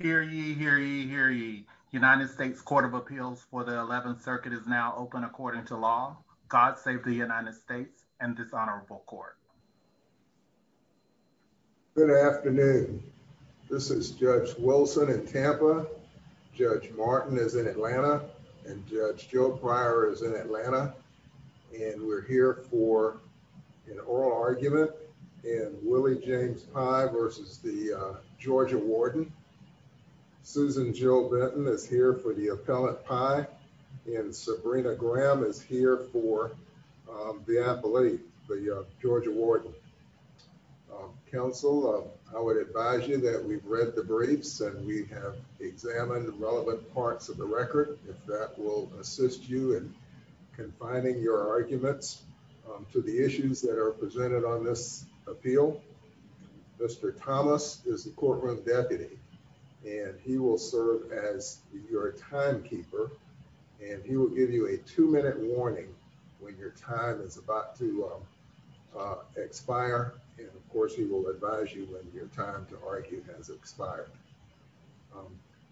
Hear ye, hear ye, hear ye. United States Court of Appeals for the 11th Circuit is now open according to law. God save the United States and this honorable court. Good afternoon. This is Judge Wilson in Tampa, Judge Martin is in Atlanta, and Judge Joe Pryor is in Atlanta, and we're here for an oral argument in Willie James Pye versus the Georgia Warden. Susan Jill Benton is here for the appellate Pye, and Sabrina Graham is here for the appellate, the Georgia Warden. Counsel, I would advise you that we've read the briefs and we have examined the relevant parts of the record, if that will assist you in confining your arguments to the issues that are presented on this appeal. Mr. Thomas is the courtroom deputy, and he will serve as your timekeeper, and he will give you a two-minute warning when your time is about to expire, and of course he will advise you when your time to argue has expired.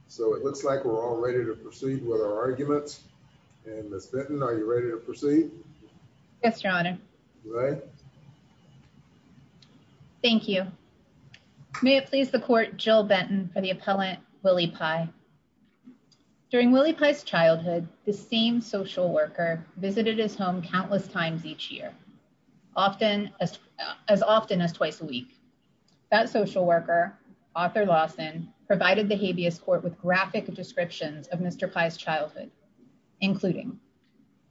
So it looks like we're all ready to proceed with our arguments, and Ms. Benton, are you ready to proceed? Yes, your honor. Thank you. May it please the court, Jill Benton for the appellant, Willie Pye. During Willie Pye's childhood, this same social worker visited his home countless times each year, as often as provided the habeas court with graphic descriptions of Mr. Pye's childhood, including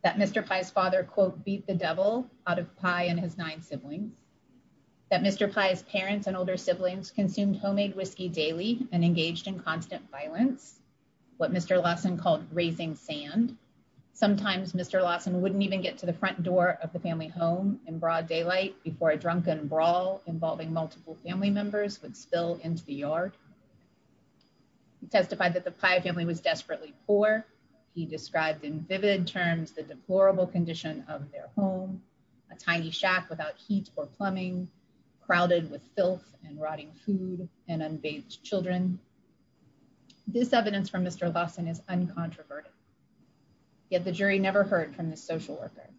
that Mr. Pye's father, quote, beat the devil out of Pye and his nine siblings, that Mr. Pye's parents and older siblings consumed homemade whiskey daily and engaged in constant violence, what Mr. Lawson called raising sand. Sometimes Mr. Lawson wouldn't even get to the front door of the family home in broad daylight before a drunken brawl involving multiple family members would spill into the yard. He testified that the Pye family was desperately poor. He described in vivid terms the deplorable condition of their home, a tiny shack without heat or plumbing, crowded with filth and rotting food and unbathed children. This evidence from Mr. Lawson is uncontroverted, yet the jury never heard from this social worker,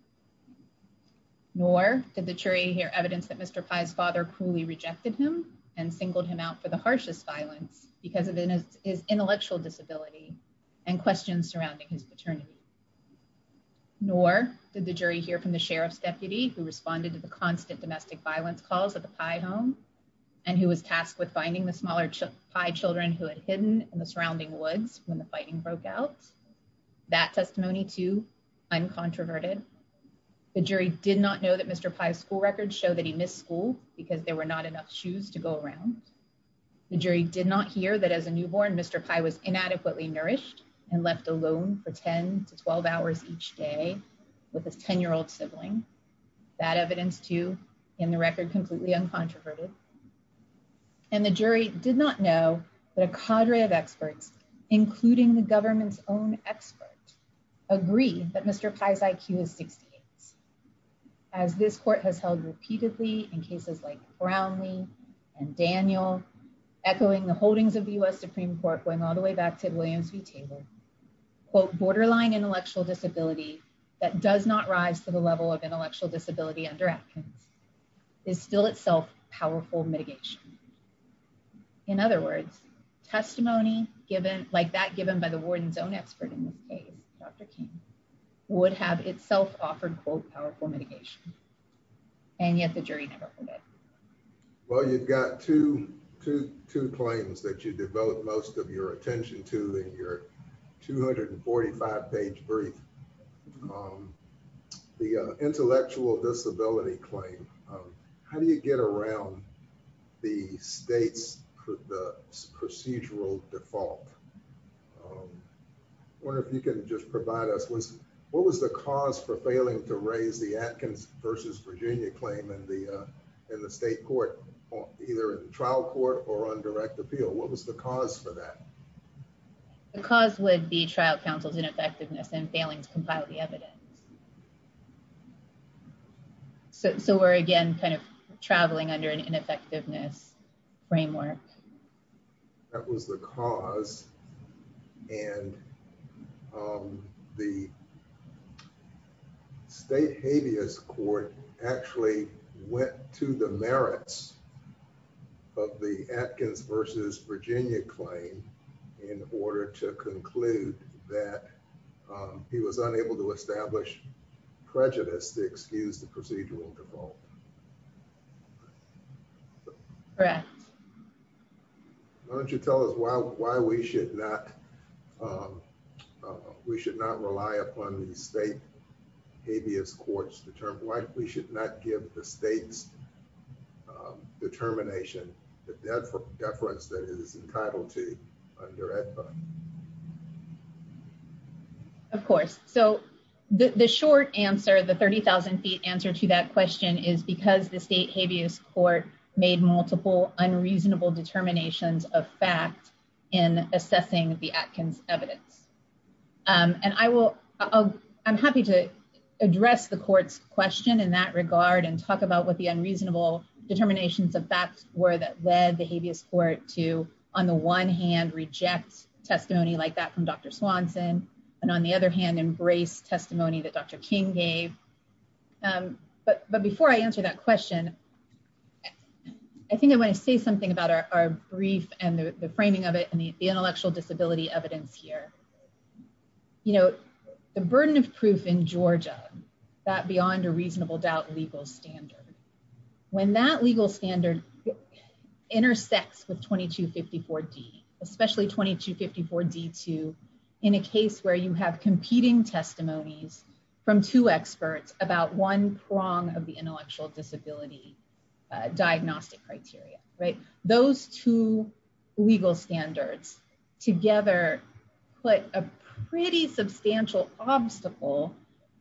nor did the jury hear that Mr. Pye's father cruelly rejected him and singled him out for the harshest violence because of his intellectual disability and questions surrounding his paternity, nor did the jury hear from the sheriff's deputy who responded to the constant domestic violence calls at the Pye home and who was tasked with finding the smaller Pye children who had hidden in the surrounding woods when the fighting broke out. That testimony, too, uncontroverted. The jury did not know that Mr. Pye's school records show that he missed school because there were not enough shoes to go around. The jury did not hear that as a newborn, Mr. Pye was inadequately nourished and left alone for 10 to 12 hours each day with his 10-year-old sibling. That evidence, too, in the record, completely uncontroverted. And the jury did not know that a cadre of experts, including the government's own expert, agreed that Mr. Pye's IQ is 68. As this court has held repeatedly in cases like Brownlee and Daniel, echoing the holdings of the U.S. Supreme Court going all the way back to Williams v. Taylor, quote, borderline intellectual disability that does not rise to the level of intellectual disability under Atkins is still itself powerful mitigation. In other words, testimony like that given by the warden's own expert in this case, Dr. King, would have itself offered, quote, powerful mitigation. And yet the jury never heard it. Well, you've got two claims that you developed most of your attention to in your 245-page brief. The intellectual disability claim, how do you get around the state's procedural default? I wonder if you can just provide us, what was the cause for failing to raise the Atkins v. Virginia claim in the state court, either in trial court or on direct appeal? What was the cause for that? The cause would be trial counsel's ineffectiveness and failing to compile the evidence. So we're, again, kind of traveling under an ineffectiveness framework. That was the cause. And the state habeas court actually went to the merits of the Atkins v. Virginia claim in order to conclude that he was unable to establish prejudice to excuse the procedural default. Why don't you tell us why we should not rely upon the state habeas courts to determine, why we should not give the state's determination the deference that it is entitled to under AEDPA? Of course. So the short answer, the 30,000-feet answer to that question is because the state habeas court made multiple unreasonable determinations of fact in assessing the Atkins evidence. And I will, I'm happy to address the court's question in that regard and talk about what the unreasonable determinations of facts were that led the habeas court to, on the one hand, reject testimony like that from Dr. Swanson, and on the other hand, embrace testimony that Dr. King gave. But before I answer that question, I think I want to say something about our brief and the disability evidence here. You know, the burden of proof in Georgia, that beyond a reasonable doubt legal standard, when that legal standard intersects with 2254D, especially 2254D2 in a case where you have competing testimonies from two experts about one prong of the intellectual disability diagnostic criteria, right, those two legal standards together put a pretty substantial obstacle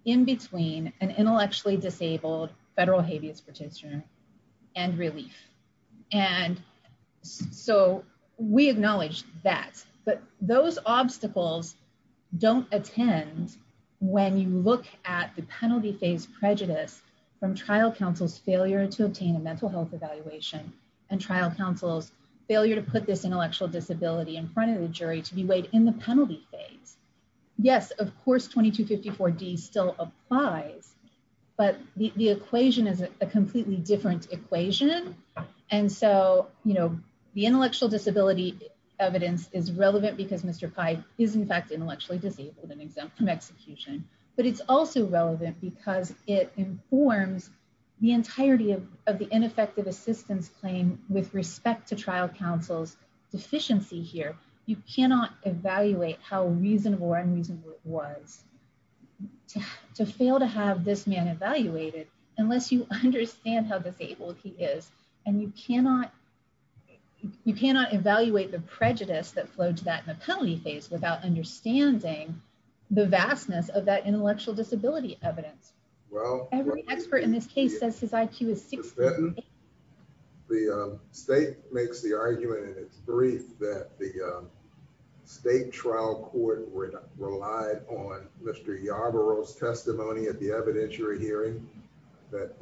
in between an intellectually disabled federal habeas partitioner and relief. And so we acknowledge that. But those obstacles don't attend when you look at the penalty phase prejudice from trial counsel's failure to obtain a mental health evaluation and trial counsel's failure to put this intellectual disability in front of the jury to be weighed in the penalty phase. Yes, of course 2254D still applies, but the equation is a completely different equation. And so, you know, the intellectual disability evidence is relevant because Mr. Pye is in fact the entirety of the ineffective assistance claim with respect to trial counsel's deficiency here. You cannot evaluate how reasonable or unreasonable it was to fail to have this man evaluated unless you understand how disabled he is. And you cannot, you cannot evaluate the prejudice that flowed to that in the penalty phase without understanding the vastness of that intellectual disability evidence. Well, every expert in this case says his IQ is 60. The state makes the argument in its brief that the state trial court relied on Mr. Yarborough's testimony at the evidentiary hearing that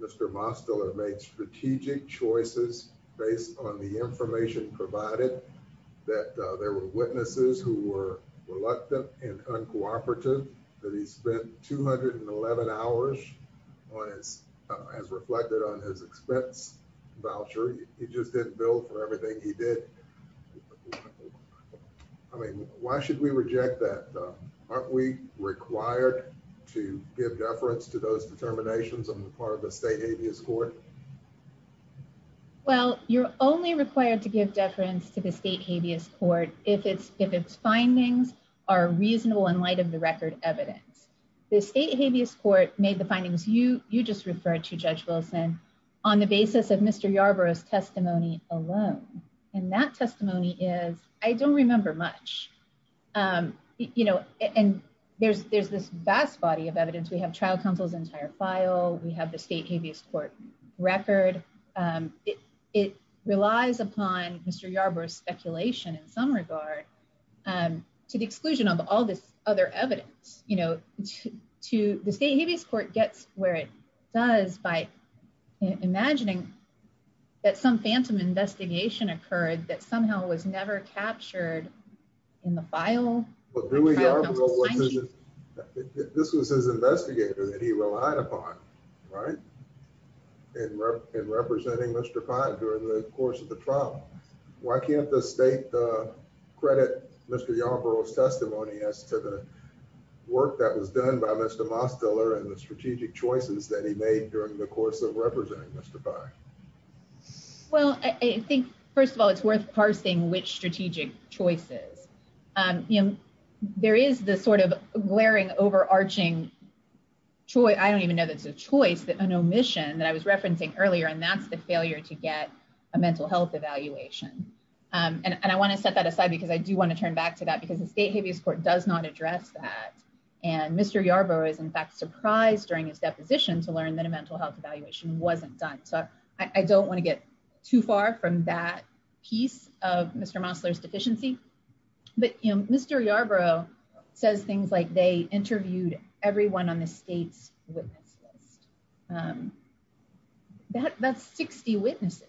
Mr. Mosteller made strategic choices based on the information provided that there were witnesses who were reluctant and uncooperative that he spent 211 hours as reflected on his expense voucher. He just didn't bill for everything he did. I mean, why should we reject that? Aren't we required to give deference to those determinations on the part of the state habeas court? Well, you're only required to give deference to the evidence. The state habeas court made the findings you just referred to judge Wilson on the basis of Mr. Yarborough's testimony alone. And that testimony is, I don't remember much, you know, and there's this vast body of evidence. We have trial counsel's entire file. We have the state habeas court record. It relies upon Mr. Yarborough's speculation in some regard and to the exclusion of all this other evidence, you know, to the state habeas court gets where it does by imagining that some phantom investigation occurred that somehow was never captured in the file. This was his investigator that he relied upon, right? And representing Mr. during the course of the trial. Why can't the state credit Mr. Yarborough's testimony as to the work that was done by Mr. Mostiller and the strategic choices that he made during the course of representing Mr. Fine? Well, I think, first of all, it's worth parsing which strategic choices, you know, there is the sort of glaring overarching choice. I don't even know that it's an omission that I was referencing earlier. And that's the failure to get a mental health evaluation. And I want to set that aside because I do want to turn back to that because the state habeas court does not address that. And Mr. Yarborough is in fact surprised during his deposition to learn that a mental health evaluation wasn't done. So I don't want to get too far from that piece of Mr. Mosler's deficiency. But Mr. Yarborough says things like they interviewed everyone on the state's witness list. That's 60 witnesses.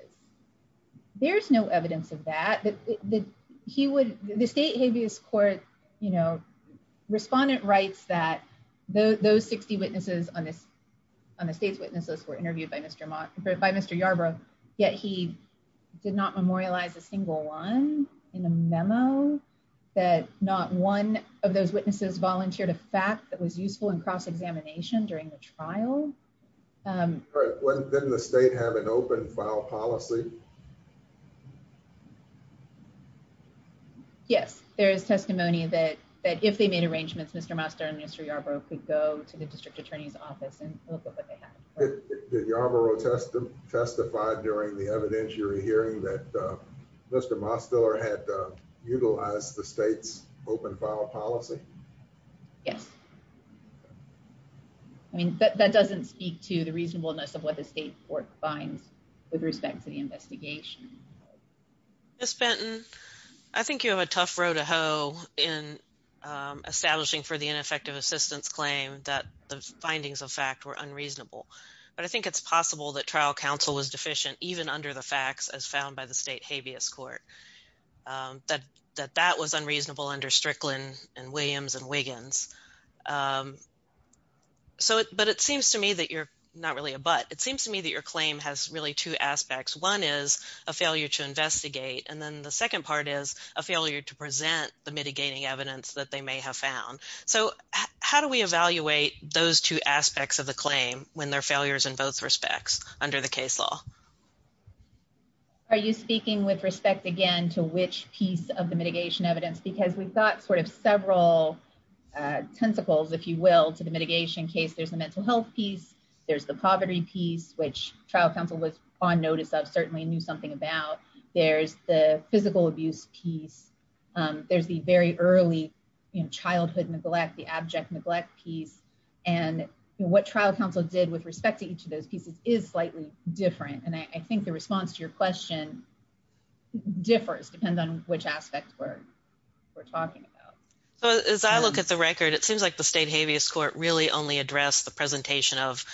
There's no evidence of that that he would the state habeas court, you know, respondent writes that those 60 witnesses on this on the state's witnesses were interviewed by Mr. Moss by Mr. Yarborough, yet he did not memorialize a single one in a memo that not one of those witnesses volunteered a fact that was useful in cross examination during the trial. Didn't the state have an open file policy? Yes, there is testimony that that if they made arrangements, Mr. Master and Mr. Yarborough could to the district attorney's office and look at what they have testified during the evidentiary hearing that Mr. Mosler had utilized the state's open file policy. Yes. I mean, that doesn't speak to the reasonableness of what the state court finds with respect to the investigation. Miss Benton, I think you have a tough road to hoe in establishing for the ineffective assistance claim that the findings of fact were unreasonable. But I think it's possible that trial counsel was deficient, even under the facts as found by the state habeas court, that that was unreasonable under Strickland and Williams and Wiggins. So, but it seems to me that you're not really a but it seems to me that your claim has really two aspects. One is a failure to investigate. And then the second part is a failure to present the mitigating evidence that they may have found. So how do we evaluate those two aspects of the claim when they're failures in both respects under the case law? Are you speaking with respect again to which piece of the mitigation evidence? Because we've got sort of several tentacles, if you will, to the mitigation case, there's the mental health piece, there's the poverty piece, which trial counsel was on notice of certainly knew something about. There's the physical abuse piece. There's the very early, you know, childhood neglect, the abject neglect piece. And what trial counsel did with respect to each of those pieces is slightly different. And I think the response to your question differs depending on which aspects we're talking about. So as I look at the record, it seems like the state habeas court really only addressed the presentation of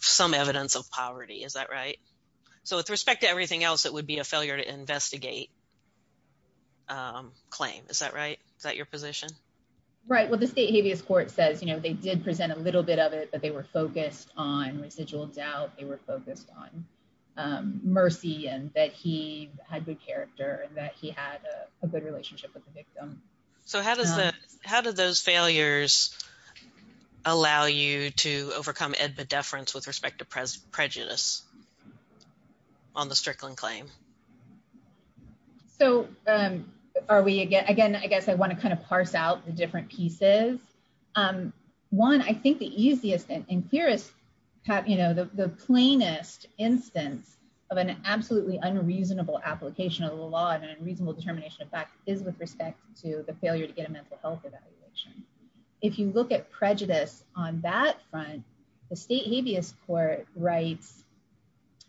some evidence of poverty. Is that right? So with respect to everything else, it would be a failure to investigate claim. Is that right? Is that your position? Right. Well, the state habeas court says, you know, they did present a little bit of it, but they were focused on residual doubt. They were focused on mercy and that he had good character and that he had a good relationship with the victim. So how does that how did those claim? So are we again, again, I guess I want to kind of parse out the different pieces. One, I think the easiest and clearest, you know, the plainest instance of an absolutely unreasonable application of the law and unreasonable determination of fact is with respect to the failure to get a mental health evaluation. If you look at prejudice on that front, the state habeas court writes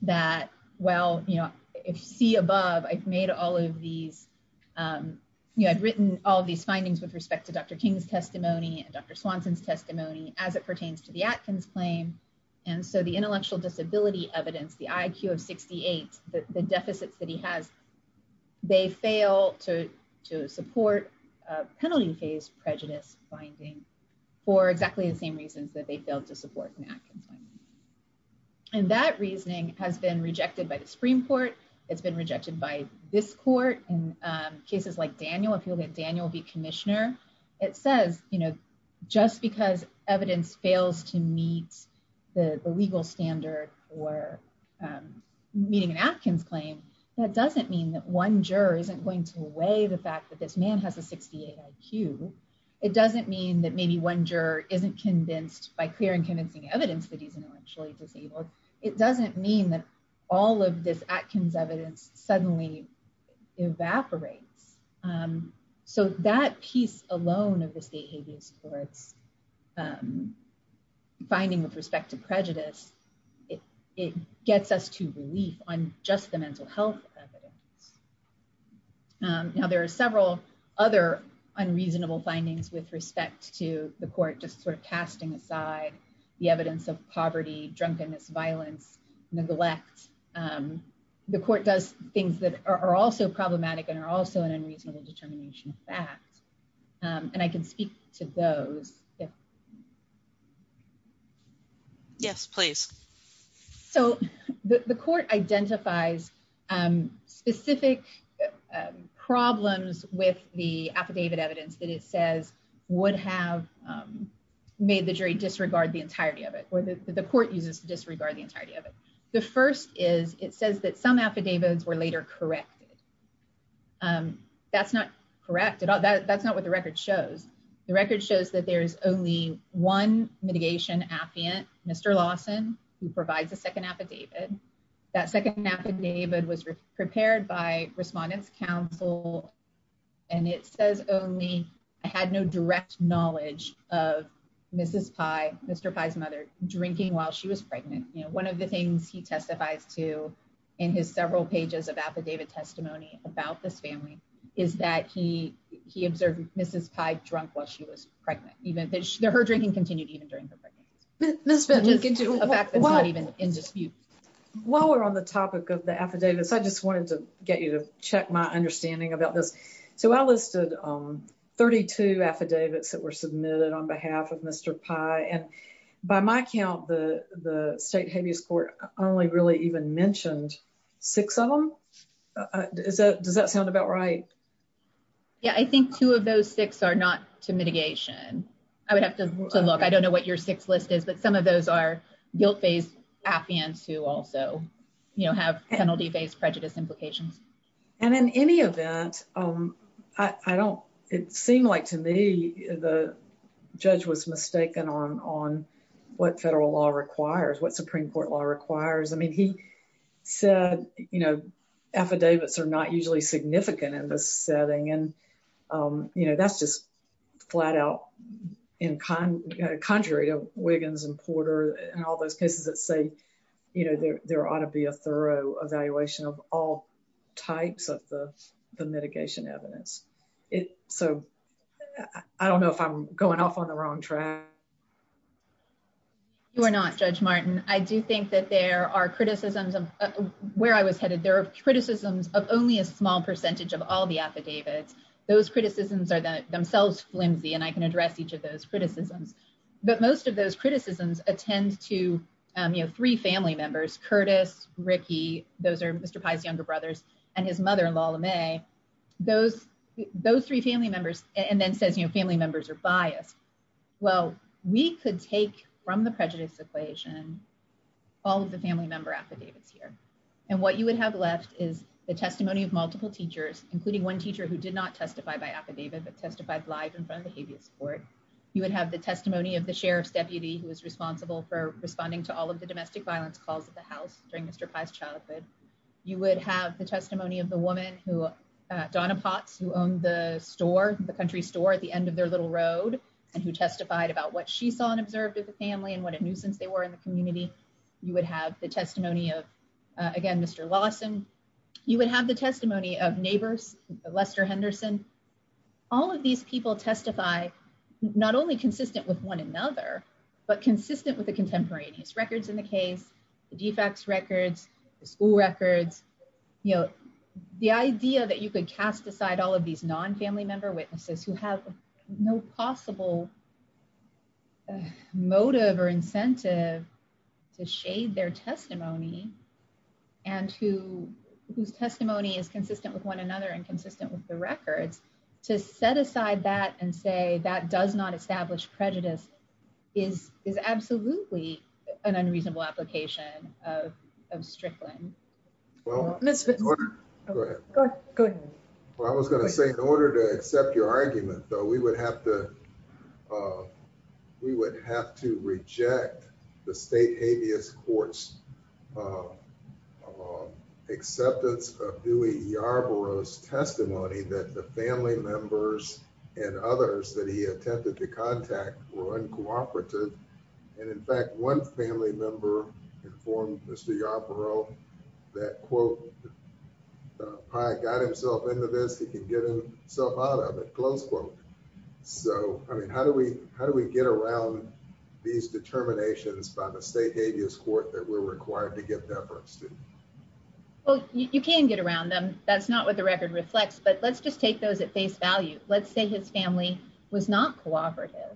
that, well, you know, if you see above, I've made all of these, you know, I've written all these findings with respect to Dr. King's testimony and Dr. Swanson's testimony as it pertains to the Atkins claim. And so the intellectual disability evidence, the IQ of 68, the deficits that he has, they fail to support a penalty phase prejudice finding for exactly the same reasons that they failed to support an Atkins claim. And that reasoning has been rejected by the Supreme Court. It's been rejected by this court in cases like Daniel, if you look at Daniel v. Commissioner, it says, you know, just because evidence fails to meet the legal standard for meeting an Atkins claim, that doesn't mean that one juror isn't going to weigh the fact that this one juror isn't convinced by clear and convincing evidence that he's intellectually disabled. It doesn't mean that all of this Atkins evidence suddenly evaporates. So that piece alone of the state habeas court's finding with respect to prejudice, it gets us to relief on just the court just sort of casting aside the evidence of poverty, drunkenness, violence, neglect. The court does things that are also problematic and are also an unreasonable determination of fact. And I can speak to those. Yes, please. So the court identifies specific problems with the affidavit evidence that it says would have made the jury disregard the entirety of it or the court uses disregard the entirety of it. The first is it says that some affidavits were later corrected. That's not correct. That's not what the record shows. The record shows that there's only one mitigation affiant, Mr. Lawson, who provides a second affidavit. That second affidavit was prepared by respondents counsel. And it says only I had no direct knowledge of Mrs. Pye, Mr. Pye's mother drinking while she was pregnant. You know, one of the things he testifies to in his several pages of affidavit testimony about this family is that he he observed Mrs. Pye drunk while she was pregnant, even though her drinking continued even during this. But you can do a fact that's not even in dispute. While we're on the topic of the affidavits, I just wanted to get you to check my understanding about this. So I listed 32 affidavits that were submitted on behalf of Mr. Pye. And by my count, the the state habeas court only really even mentioned six of them. Is that does that sound about right? Yeah, I think two of those six are not to mitigation. I would have to look. I don't know what your six list is. But some of those are guilt based affiants who also, you know, have penalty based prejudice implications. And in any event, I don't it seemed like to me, the judge was mistaken on on what federal law requires what Supreme Court law requires. I mean, he said, you know, affidavits are not usually significant in this setting. And, you know, that's just flat out in kind, contrary to Wiggins and Porter, and all those cases that say, you know, there ought to be a thorough evaluation of all types of the mitigation evidence. It so I don't know if I'm going off on the wrong track. You are not Judge Martin, I do think that there are criticisms of where I was headed, there are criticisms of only a small percentage of all the affidavits. Those criticisms are that themselves flimsy, and I can address each of those criticisms. But most of those criticisms attend to, you know, three family members, Curtis, Ricky, those are Mr. pies, younger brothers, and his mother, Lola May, those, those three family members, and then says, you know, family members are biased. Well, we could take from the prejudice equation, all of the family affidavits here. And what you would have left is the testimony of multiple teachers, including one teacher who did not testify by affidavit, but testified live in front of the habeas court, you would have the testimony of the sheriff's deputy who was responsible for responding to all of the domestic violence calls at the house during Mr. pies childhood, you would have the testimony of the woman who Donna pots who owned the store, the country store at the end of their little road, and who testified about what she saw and observed at the family and what a nuisance they were in the community, you would have the testimony of, again, Mr. Lawson, you would have the testimony of neighbors, Lester Henderson, all of these people testify, not only consistent with one another, but consistent with the contemporaneous records in the case, the defects records, the school records, you know, the idea that you could cast aside all of these non family member witnesses who have no possible motive or incentive to shade their testimony. And who, whose testimony is consistent with one another and consistent with the records, to set aside that and say that does not establish prejudice is is absolutely an unreasonable application of Strickland. Go ahead. Go ahead. I was going to say in order to accept your argument, though, we would have to we would have to reject the state habeas courts acceptance of Dewey Yarborough's testimony that the family members and others that he attempted to contact were uncooperative. And in fact, one family member informed Mr. Yarborough, that quote, I got himself into this, he can get himself out of it, close quote. So I mean, how do we how do we get around these determinations by the state habeas court that we're required to get that first? Well, you can get around them. That's not what the record reflects. But let's just take those at face value. Let's say his family was not cooperative.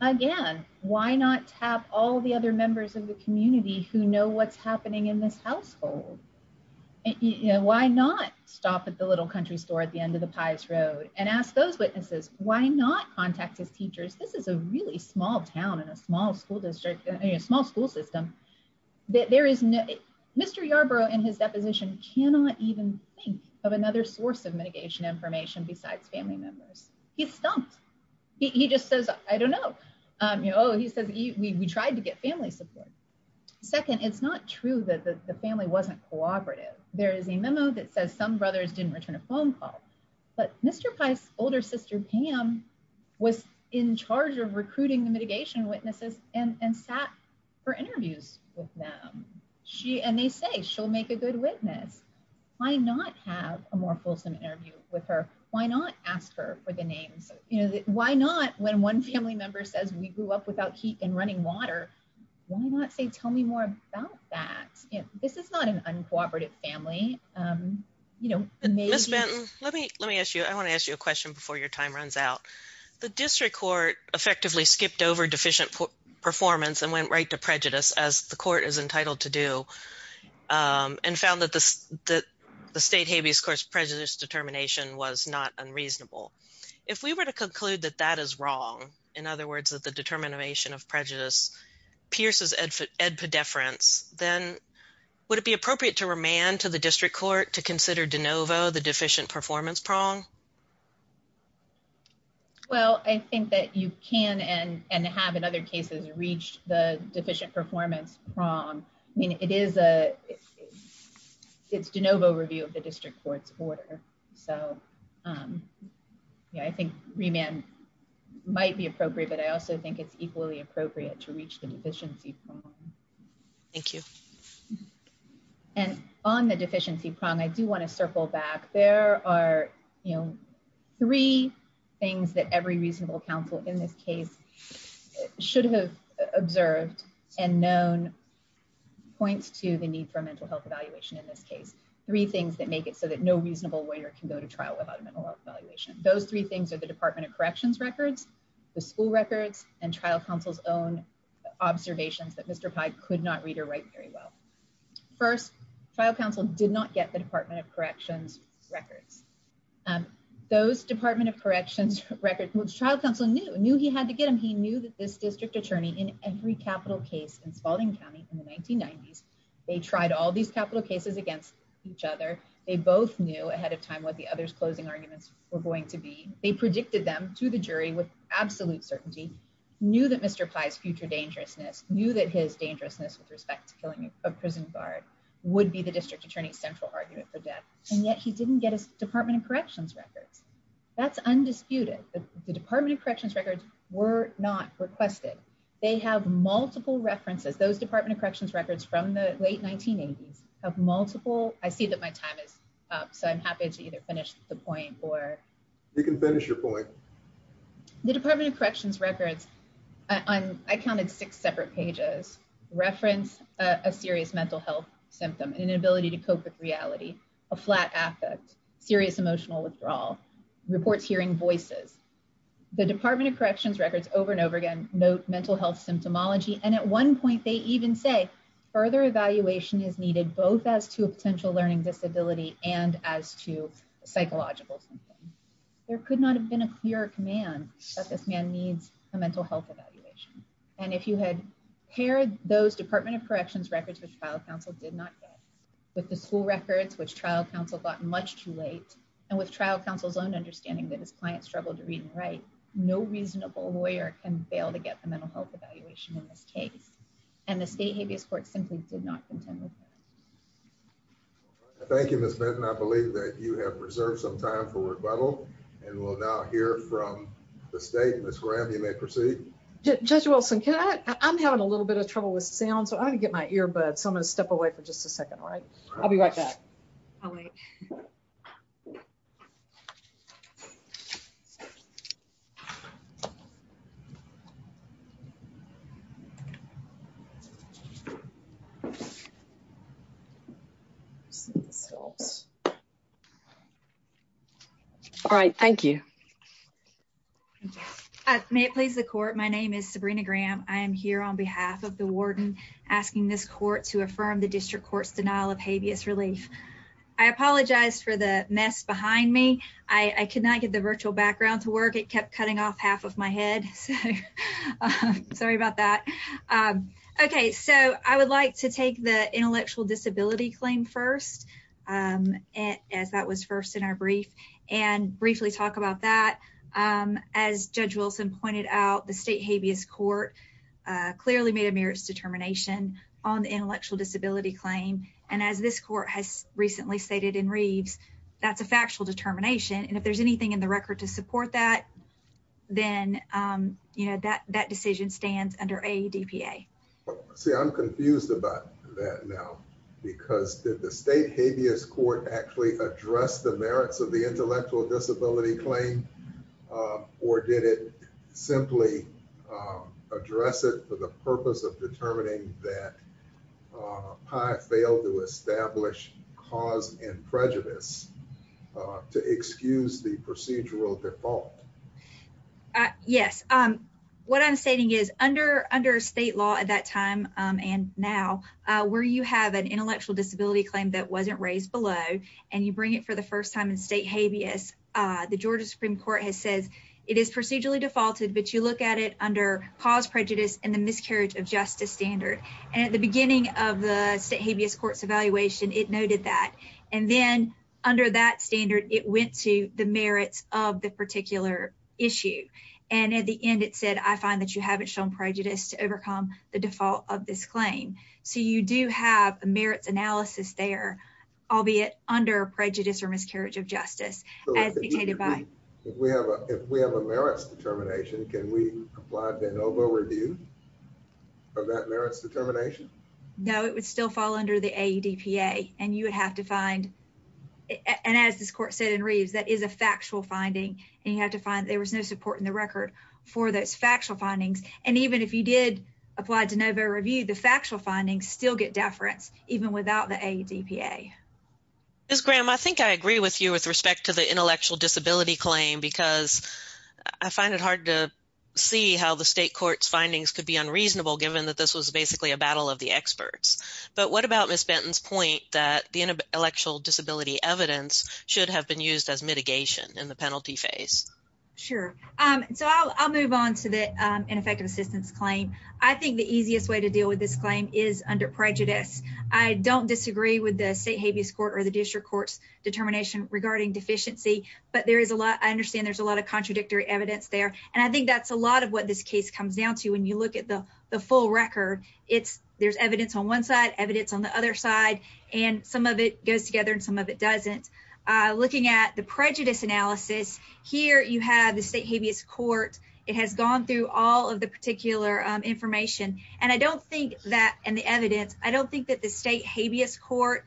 Again, why not tap all the other members of the community who know what's happening in this household? Why not stop at the little country store at the end of the pies road and ask those witnesses why not contact his teachers, this is a really small town in a small school district, a small school system. There is no Mr. Yarborough in his deposition cannot even think of another source of mitigation information besides family members. He's stumped. He just says, I don't know. You know, he says he tried to get family support. Second, it's not true that the family wasn't cooperative. There is a memo that says some brothers didn't return a phone call. But Mr. Price older sister Pam was in charge of recruiting the mitigation witnesses and sat for interviews with them. She and they say she'll make a good witness. Why not have a more fulsome interview with her? Why not ask her for the names? You know, why not when one family member says we grew up without heat and running water? Why not say tell me more about that? This is not an uncooperative family. You know, let me let me ask you, I want to ask you a question before your time runs out. The district court effectively skipped over deficient performance and went right to prejudice as the court is entitled to do. And found that the state habeas course prejudice determination was not unreasonable. If we were to conclude that that is wrong, in other words, that the determination of prejudice pierces and for ed pedifference, then would it be appropriate to remand to the district court to consider de novo, the deficient performance prong? Well, I think that you can and and have in other cases reached the deficient performance prong. I mean, it is a it's de novo review of the district court's order. So yeah, I think remand might be appropriate. But I also think it's equally appropriate to reach the deficiency. Thank you. And on the deficiency prong, I do want to circle back, there are, you know, three things that every reasonable counsel in this case should have observed and known points to the need for a mental health evaluation in this case, three things that make it so that no reasonable lawyer can go to trial without a mental evaluation. Those three things are the Department of Corrections records, the school records and trial counsel's own observations that Mr. Pike could not read or write very well. First, trial counsel did not get the Department of Corrections records. Those Department of Corrections records trial counsel knew knew he had to get him. He knew that this district attorney in every capital case in Spalding County in the 1990s, they tried all these capital cases against each other. They both knew ahead of time what the others closing arguments were going to be. They predicted them to the jury with absolute certainty, knew that Mr. Pies future dangerousness that his dangerousness with respect to killing a prison guard would be the district attorney's central argument for death. And yet he didn't get his Department of Corrections records. That's undisputed. The Department of Corrections records were not requested. They have multiple references. Those Department of Corrections records from the late 1980s have multiple. I see that my time is up. So I'm happy to either finish the point or you can finish your point. The Department of Corrections records, I counted six separate pages, reference a serious mental health symptom, inability to cope with reality, a flat affect, serious emotional withdrawal, reports hearing voices. The Department of Corrections records over and over again, note mental health symptomology. And at one point they even say further evaluation is needed both as to a potential learning disability and as to psychological symptoms. There could not have been a clear command that this man needs a mental health evaluation. And if you had paired those Department of Corrections records, which trial counsel did not get with the school records, which trial counsel gotten much too late. And with trial counsel's own understanding that his client struggled to read and write, no reasonable lawyer can fail to get the mental health evaluation in this case. And the state habeas court simply did not contend with that. Thank you, Miss Benton. I believe that you have preserved some time for rebuttal and we'll now hear from the state. Miss Graham, you may proceed. Judge Wilson, can I, I'm having a little bit of trouble with sound, so I'm going to get my earbuds. So I'm going to step away for just a second, right? I'll be right back. All right. Thank you. May it please the court. My name is Sabrina Graham. I am here on behalf of the warden asking this court to affirm the district court's denial of habeas relief. I apologize for the mess behind me. I could not get the virtual background to work. It kept cutting off half of my head. So sorry about that. Okay. So I would like to take the intellectual disability claim first as that was first in our brief and briefly talk about that. As Judge Wilson pointed out, the state habeas court clearly made a merits determination on the intellectual disability claim. And as this court has recently stated in Reeves, that's a factual determination. And if there's anything in the record to support that, then that decision stands under a DPA. See, I'm confused about that now because did the state habeas court actually address the merits of the intellectual disability claim or did it simply address it for the purpose of determining that I failed to establish cause and prejudice to excuse the procedural default? Yes. What I'm stating is under state law at that time and now where you have an intellectual disability claim that wasn't raised below and you bring it for the first time in state habeas, the Georgia Supreme Court has said it is procedurally defaulted, but you look at it cause prejudice and the miscarriage of justice standard. And at the beginning of the state habeas courts evaluation, it noted that. And then under that standard, it went to the merits of the particular issue. And at the end, it said, I find that you haven't shown prejudice to overcome the default of this claim. So you do have a merits analysis there, albeit under prejudice of justice. If we have a merits determination, can we apply to NOVA review of that merits determination? No, it would still fall under the AEDPA. And you would have to find, and as this court said in Reeves, that is a factual finding. And you have to find there was no support in the record for those factual findings. And even if you did apply to NOVA review, the factual findings still get deference even without the AEDPA. Ms. Graham, I think I agree with you with respect to the intellectual disability claim, because I find it hard to see how the state court's findings could be unreasonable, given that this was basically a battle of the experts. But what about Ms. Benton's point that the intellectual disability evidence should have been used as mitigation in the penalty phase? Sure. So I'll move on to the ineffective assistance claim. I think the easiest way to the district court's determination regarding deficiency, but I understand there's a lot of contradictory evidence there. And I think that's a lot of what this case comes down to. When you look at the full record, there's evidence on one side, evidence on the other side, and some of it goes together and some of it doesn't. Looking at the prejudice analysis, here you have the state habeas court. It has gone through all of the particular information. And I don't think that in the evidence, I don't think that the state habeas court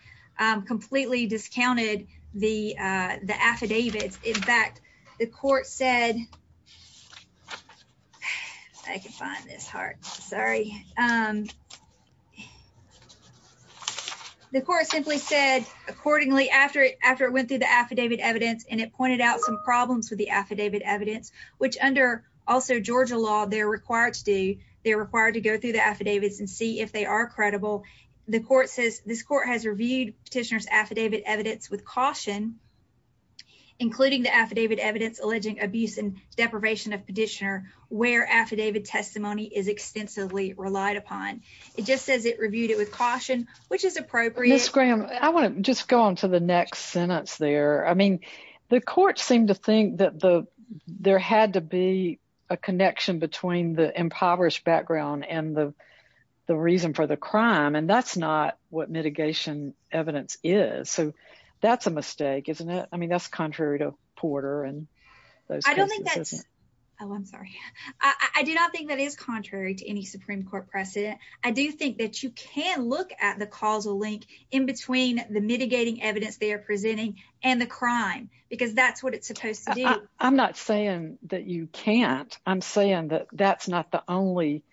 completely discounted the affidavits. In fact, the court said, I can find this hard. Sorry. The court simply said accordingly after it went through the affidavit evidence, and it pointed out some problems with the affidavit evidence, which under also Georgia they're required to do. They're required to go through the affidavits and see if they are credible. The court says this court has reviewed petitioner's affidavit evidence with caution, including the affidavit evidence, alleging abuse and deprivation of petitioner where affidavit testimony is extensively relied upon. It just says it reviewed it with caution, which is appropriate. Ms. Graham, I want to just go on to the next sentence there. I mean, the court seemed to be a connection between the impoverished background and the reason for the crime, and that's not what mitigation evidence is. So that's a mistake, isn't it? I mean, that's contrary to Porter and those cases, isn't it? Oh, I'm sorry. I do not think that is contrary to any Supreme Court precedent. I do think that you can look at the causal link in between the mitigating evidence they are presenting and the crime, because that's what it's supposed to do. I'm not saying that you can't. I'm saying that that's not the only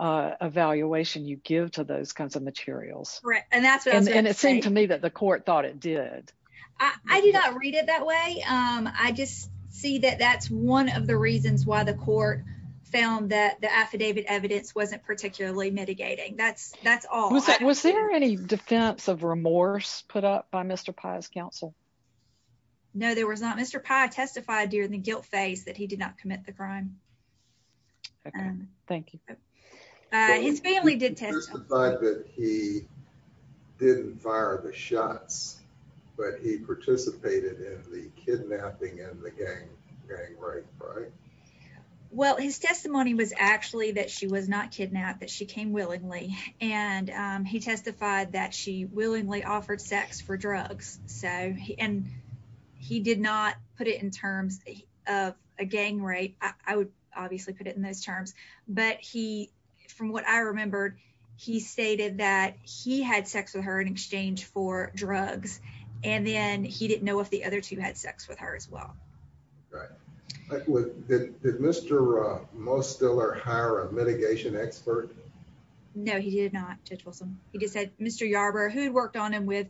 evaluation you give to those kinds of materials. Right. And it seemed to me that the court thought it did. I do not read it that way. I just see that that's one of the reasons why the court found that the affidavit evidence wasn't particularly mitigating. That's all. Was there any defense of remorse put up by Mr. Pye's counsel? No, there was not. Mr. Pye testified during the guilt phase that he did not commit the crime. OK. Thank you. His family did testify that he didn't fire the shots, but he participated in the kidnapping and the gang rape, right? Well, his testimony was actually that she was not kidnapped, that she came willingly, and he testified that she willingly offered sex for drugs. And he did not put it in terms of a gang rape. I would obviously put it in those terms. But from what I remembered, he stated that he had sex with her in exchange for drugs, and then he didn't know if the other two had sex with her as well. Right. Did Mr. Mostiller hire a mitigation expert? No, he did not, Judge Wilson. He just said Mr. Yarbrough, who had worked on him with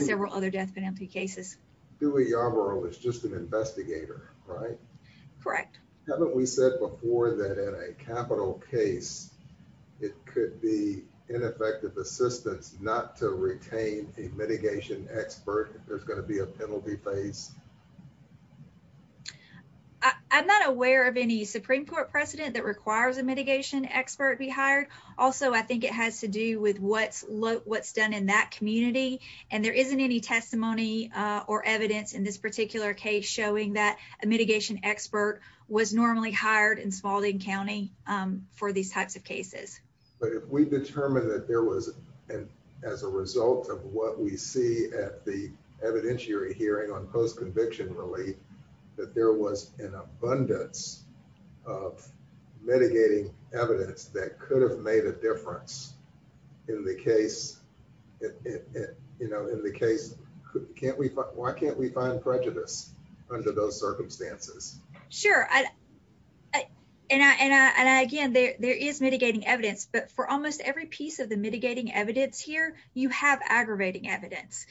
several other death penalty cases. Dewey Yarbrough was just an investigator, right? Correct. Haven't we said before that in a capital case, it could be ineffective assistance not to retain a mitigation expert if there's going to be a penalty phase? I'm not aware of any Supreme Court precedent that requires a mitigation expert be hired. Also, I think it has to do with what's done in that community, and there isn't any testimony or evidence in this particular case showing that a mitigation expert was normally hired in Smalding County for these types of cases. But if we determine that there was, as a result of what we see at the evidentiary hearing on post-conviction relief, that there was an abundance of mitigating evidence that could have made a difference in the case, why can't we find prejudice under those circumstances? Sure. And again, there is mitigating evidence, but for almost every piece of the mitigating evidence here, you have aggravating evidence.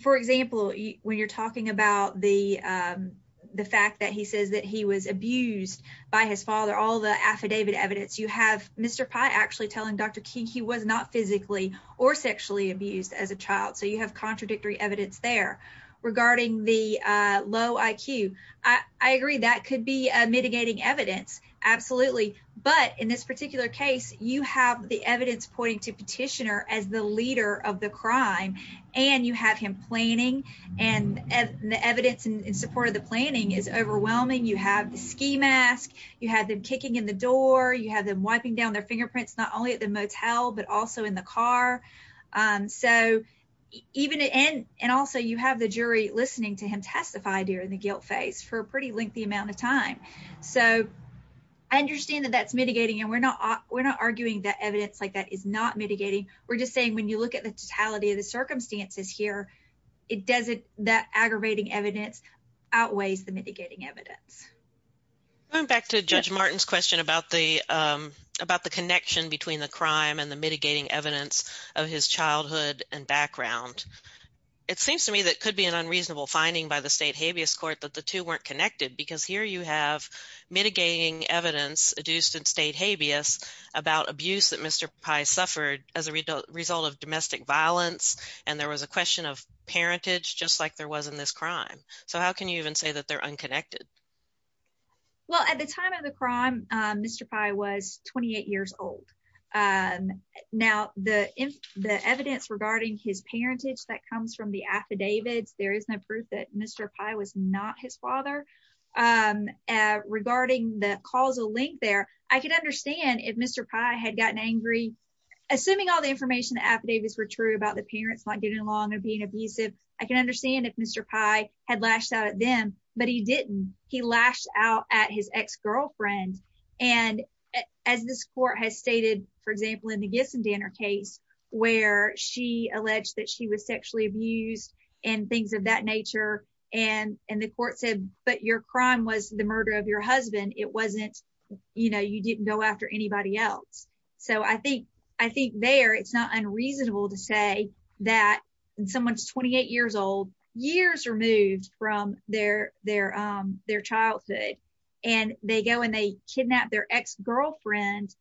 For example, when you're talking about the fact that he says that he was abused by his father, all the affidavit evidence, you have Mr. Pye actually telling Dr. King he was not physically or sexually abused as a child, so you have contradictory evidence there. Regarding the low IQ, I agree that could be mitigating evidence, absolutely. But in this particular case, you have the evidence pointing to Petitioner as the leader of the crime, and you have him planning, and the evidence in support of the planning is overwhelming. You have the ski mask, you have them kicking in the door, you have them wiping down their fingerprints not only at the motel, but also in the car. And also, you have the jury listening to him testify during the guilt phase for a pretty lengthy amount of time. So, I understand that that's mitigating, and we're not arguing that evidence like that is not mitigating. We're just saying when you look at the totality of the circumstances here, that aggravating evidence outweighs the mitigating evidence. Going back to Judge Martin's question about the connection between the crime and the mitigating evidence of his childhood and background, it seems to me that could be an unreasonable finding by the State Habeas Court that the two weren't connected, because here you have mitigating evidence adduced in State Habeas about abuse that Mr. Pye suffered as a result of domestic violence, and there was a question of parentage, just like there was in this crime. So, how can you even say that they're unconnected? Well, at the time of the crime, Mr. Pye was 28 years old. Now, the evidence regarding his parentage that comes from the affidavits, there is no proof that Mr. Pye was not his father. Regarding the causal link there, I could understand if Mr. Pye had gotten angry. Assuming all the information affidavits were true about the parents not getting along and being abusive, I can understand if Mr. Pye had lashed out at them, but he didn't. He lashed out at his ex-girlfriend, and as this court has stated, for example, in the Gissendaner case, where she alleged that she was sexually abused and things of that nature, and the court said, but your crime was the murder of your husband. It wasn't, you know, you didn't go after anybody else. So, I think there it's not unreasonable to say that someone's 28 years old, years removed from their childhood, and they go and they kidnap their ex-girlfriend,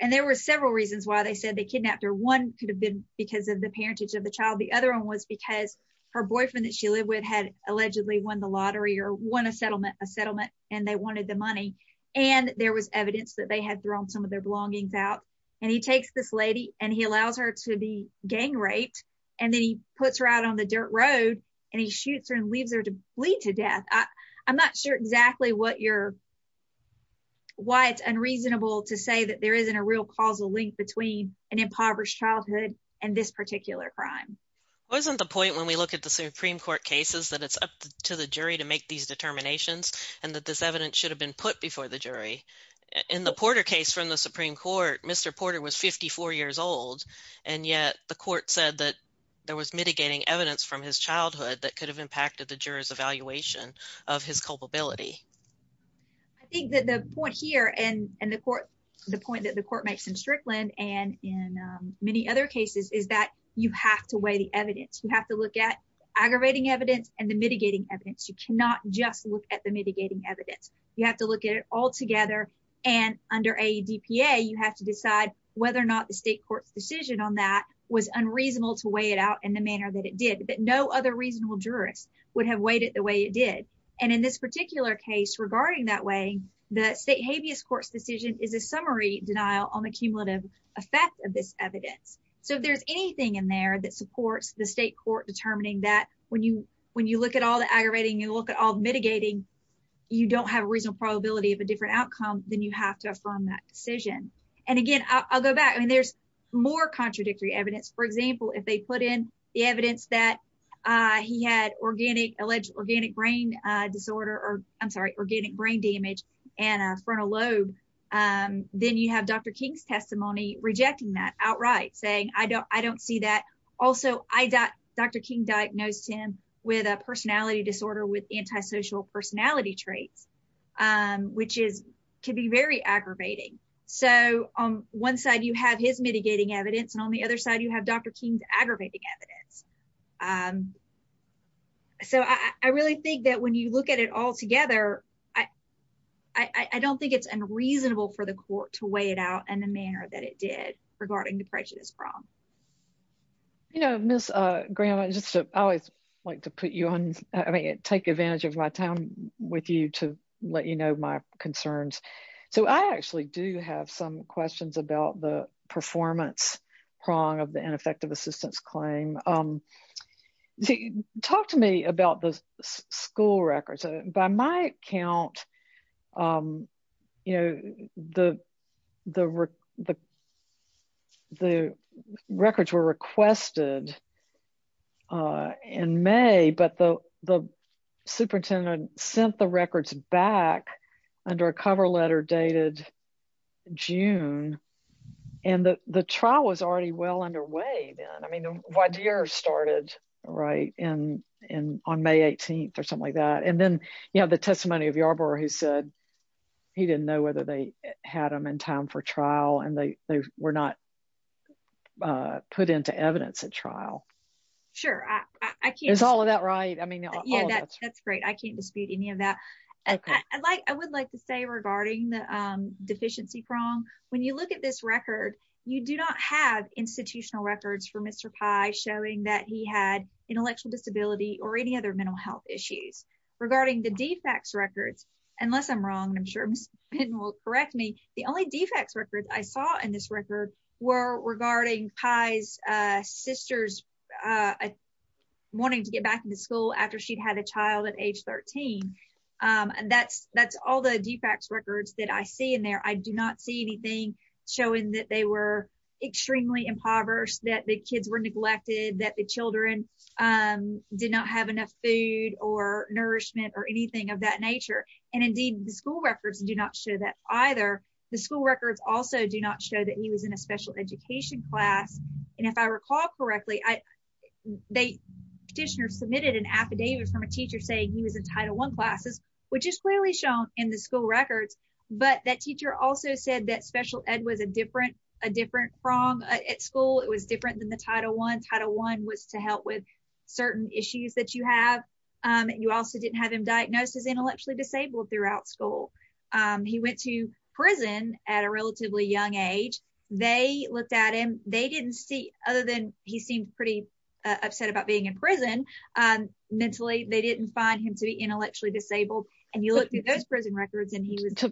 and there were several reasons why they said they kidnapped her. One could have been because of the parentage of the child. The other one was because her boyfriend that she lived with had allegedly won the lottery or won a settlement, and they wanted the money, and there was evidence that they had thrown some of their belongings out, and he takes this lady, and he allows her to be gang raped, and then he puts her out on the dirt road, and he shoots her and leaves her to bleed to death. I'm not sure exactly what you're, why it's unreasonable to say that there isn't a real causal link between an impoverished childhood and this particular crime. Wasn't the point when we look at the Supreme Court cases that it's up to the jury to make these determinations, and that this evidence should have been put before the jury. In the Porter case from the Supreme Court, Mr. Porter was 54 years old, and yet the court said that there was mitigating evidence from his childhood that could have impacted the juror's evaluation of his culpability. I think that the point here, and the court, the point that the court makes in Strickland and in many other cases is that you have to weigh the evidence. You have to look at aggravating evidence and the mitigating evidence. You cannot just look at the mitigating evidence. You have to look at it all together, and under a DPA, you have to decide whether or not the state court's decision on that was unreasonable to weigh it out in the manner that it did, that no other reasonable jurist would have weighed it the way it did. And in this particular case, regarding that way, the state habeas court's decision is a summary denial on the cumulative effect of this evidence. So if there's anything in there that supports the state court determining that when you look at all the aggravating, you look at all the mitigating, you don't have a reasonable probability of a different outcome, then you have to affirm that decision. And again, I'll go back. I mean, there's more contradictory evidence. For example, if they put in the evidence that he had alleged organic brain disorder, or I'm sorry, organic brain damage and a frontal lobe, then you have Dr. King's testimony rejecting that outright, saying I don't see that. Also, I got Dr. King diagnosed him with a personality disorder with antisocial personality traits, which is can be very aggravating. So on one side, you have his mitigating evidence, and on the other side, you have Dr. King's aggravating evidence. So I really think that when you look at it all together, I don't think it's unreasonable for the court to weigh it out in the manner that it did regarding the prejudice prong. You know, Miss Graham, I just always like to put you on, I mean, take advantage of my time with you to let you know my concerns. So I actually do have some questions about the performance prong of the ineffective assistance claim. See, talk to me about the school records. By my account, you know, the records were requested in May, but the superintendent sent the records back under a cover letter dated June. And the trial was already well underway then. I mean, the YDR started right on May 18th or something like that. And then, you know, the testimony of Yarbrough who said he didn't know whether they had them in time for trial, and they were not put into evidence at trial. Sure. Is all of that right? I mean, yeah, that's great. I can't dispute any of that. I would like to say regarding the deficiency prong, when you look at this record, you do not have institutional records for Mr. Pye showing that he had intellectual disability or any other mental health issues. Regarding the defects records, unless I'm wrong, I'm sure Ms. Pitten will correct me, the only defects records I saw in this record were regarding Pye's sister's wanting to get back into school after she'd had a child at age 13. And that's all the defects records that I see in there. I do not see anything showing that they were extremely impoverished, that the kids were neglected, that the children did not have enough food or nourishment or anything of that nature. And indeed, the school records do not show that either. The school records also do not show that he was in a special education class. And if I recall correctly, the petitioner submitted an affidavit from a teacher saying he was in Title I classes, which is clearly shown in the school records. But that teacher also said that special ed was a different prong at school. It was different than the Title I. Title I was to help with certain issues that you have. You also didn't have him diagnosed as intellectually disabled throughout school. He went to prison at a relatively young age. They looked at him. They didn't see, other than he seemed pretty upset about being in prison mentally, they didn't find him to be intellectually disabled. And you looked at those prison records and he was...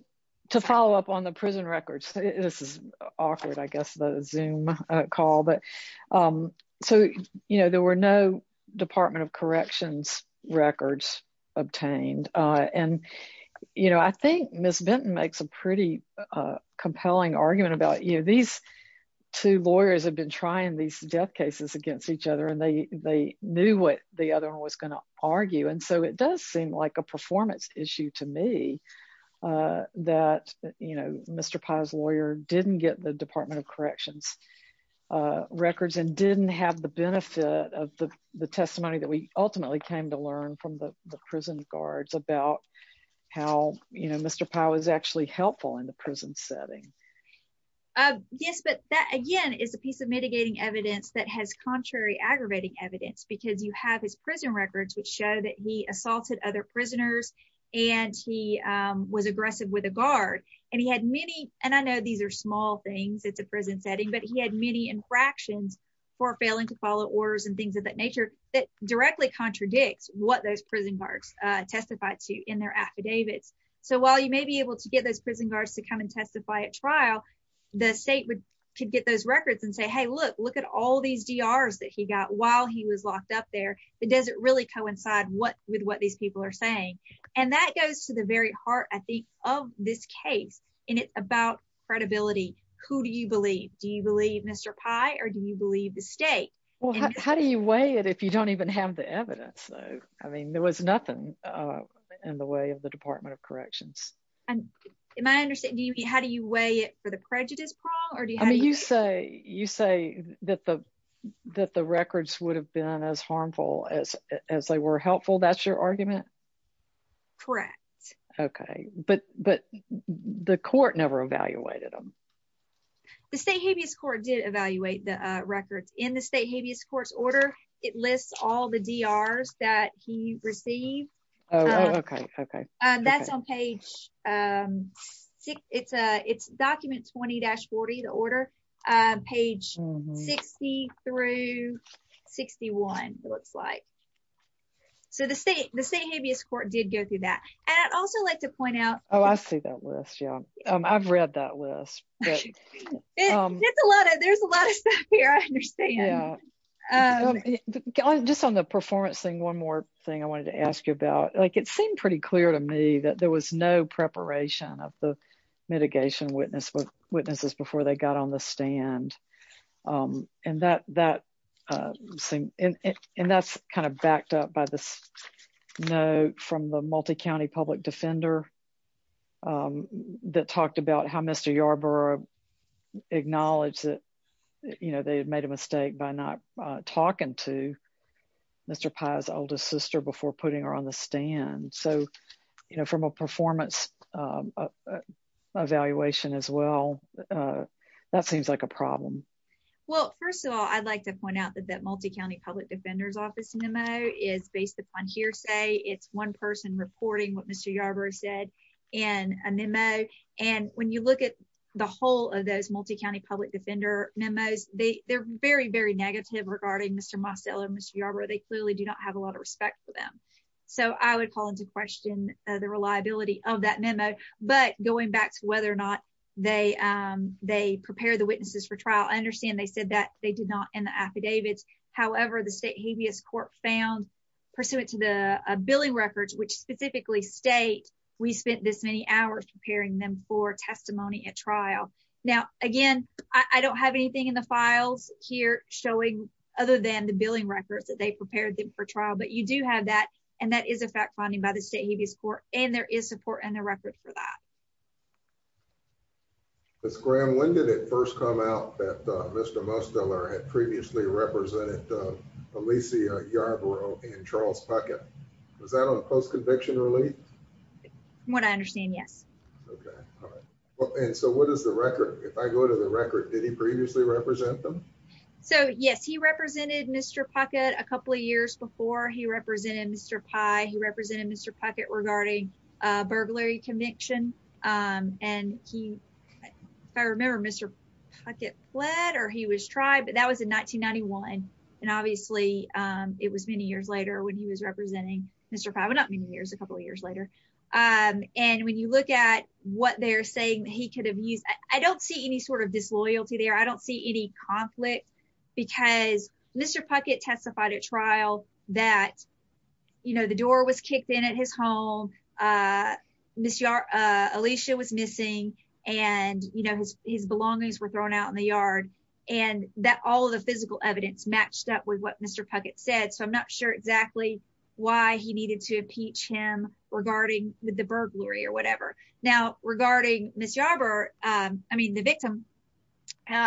To follow up on the prison records, this is awkward, I guess, the Zoom call. But so, you know, there were no Department of Corrections records obtained. And, you know, I think Ms. Benton makes a pretty compelling argument about, you know, these two lawyers have been trying these death cases against each other, and they knew what the other one was going to argue. And so it does seem like a performance issue to me that, you know, Mr. Pye's lawyer didn't get the Department of Corrections records and didn't have the benefit of the testimony that we ultimately came to learn from the prison guards about how, you know, Mr. Pye was actually helpful in the prison setting. Yes, but that, again, is a piece of mitigating evidence that has contrary aggravating evidence, because you have his prison records, which show that he assaulted other prisoners, and he was aggressive with a guard. And he had many, and I know these are small things, it's a prison setting, but he had many infractions for failing to follow orders and things of that nature, that directly contradicts what those prison guards testified to in their affidavits. So while you may be able to get those prison guards to come and testify at while he was locked up there, that doesn't really coincide with what these people are saying. And that goes to the very heart, I think, of this case, and it's about credibility. Who do you believe? Do you believe Mr. Pye, or do you believe the state? Well, how do you weigh it if you don't even have the evidence? I mean, there was nothing in the way of the Department of Corrections. Am I understanding, how do you weigh it for the prejudice prong? I mean, you say that the records would have been as harmful as they were helpful, that's your argument? Correct. Okay, but the court never evaluated them. The state habeas court did evaluate the records. In the state habeas court's order, it lists all the DRs that he received. Okay, okay. That's on page six. It's document 20-40, the order, page 60 through 61, it looks like. So the state habeas court did go through that. And I'd also like to point out- Oh, I see that list, yeah. I've read that list. There's a lot of stuff here, I understand. Just on the performance thing, one more thing I wanted to ask you about, like it seemed pretty clear to me that there was no preparation of the mitigation witnesses before they got on the stand. And that's kind of backed up by this note from the multi-county public defender that talked about how Mr. Yarborough acknowledged that they had made a So from a performance evaluation as well, that seems like a problem. Well, first of all, I'd like to point out that that multi-county public defender's office memo is based upon hearsay. It's one person reporting what Mr. Yarborough said in a memo. And when you look at the whole of those multi-county public defender memos, they're very, very negative regarding Mr. Mostello and Mr. Yarborough. They clearly do not have a lot of respect for them. So I would call into question the reliability of that memo. But going back to whether or not they prepare the witnesses for trial, I understand they said that they did not in the affidavits. However, the state habeas court found pursuant to the billing records, which specifically state we spent this many hours preparing them for testimony at trial. Now, again, I don't have anything in the files here showing other than the billing records that they prepared them for trial. But you do have that. And that is a fact finding by the state habeas court. And there is support in the record for that. Ms. Graham, when did it first come out that Mr. Mostello had previously represented Alicia Yarborough and Charles Puckett? Was that on post-conviction relief? From what I understand, yes. Okay. All right. And so what is the record? If I go to the record, did he previously represent them? So yes, he represented Mr. Puckett a couple of years before he represented Mr. Pye. He represented Mr. Puckett regarding a burglary conviction. And he, if I remember, Mr. Puckett fled or he was tried, but that was in 1991. And obviously, it was many years later when he was representing Mr. Pye, but not many years, a couple of years later. And when you look at what they're saying he could have used, I don't see any sort of disloyalty there. I don't see any conflict because Mr. Puckett testified at trial that, you know, the door was kicked in at his home. Alicia was missing and, you know, his belongings were thrown out in the yard and that all of the physical evidence matched up with what Mr. Puckett said. So I'm not sure exactly why he needed to impeach him regarding the burglary or whatever. Now, regarding Ms. Yarbrough, I mean, the victim,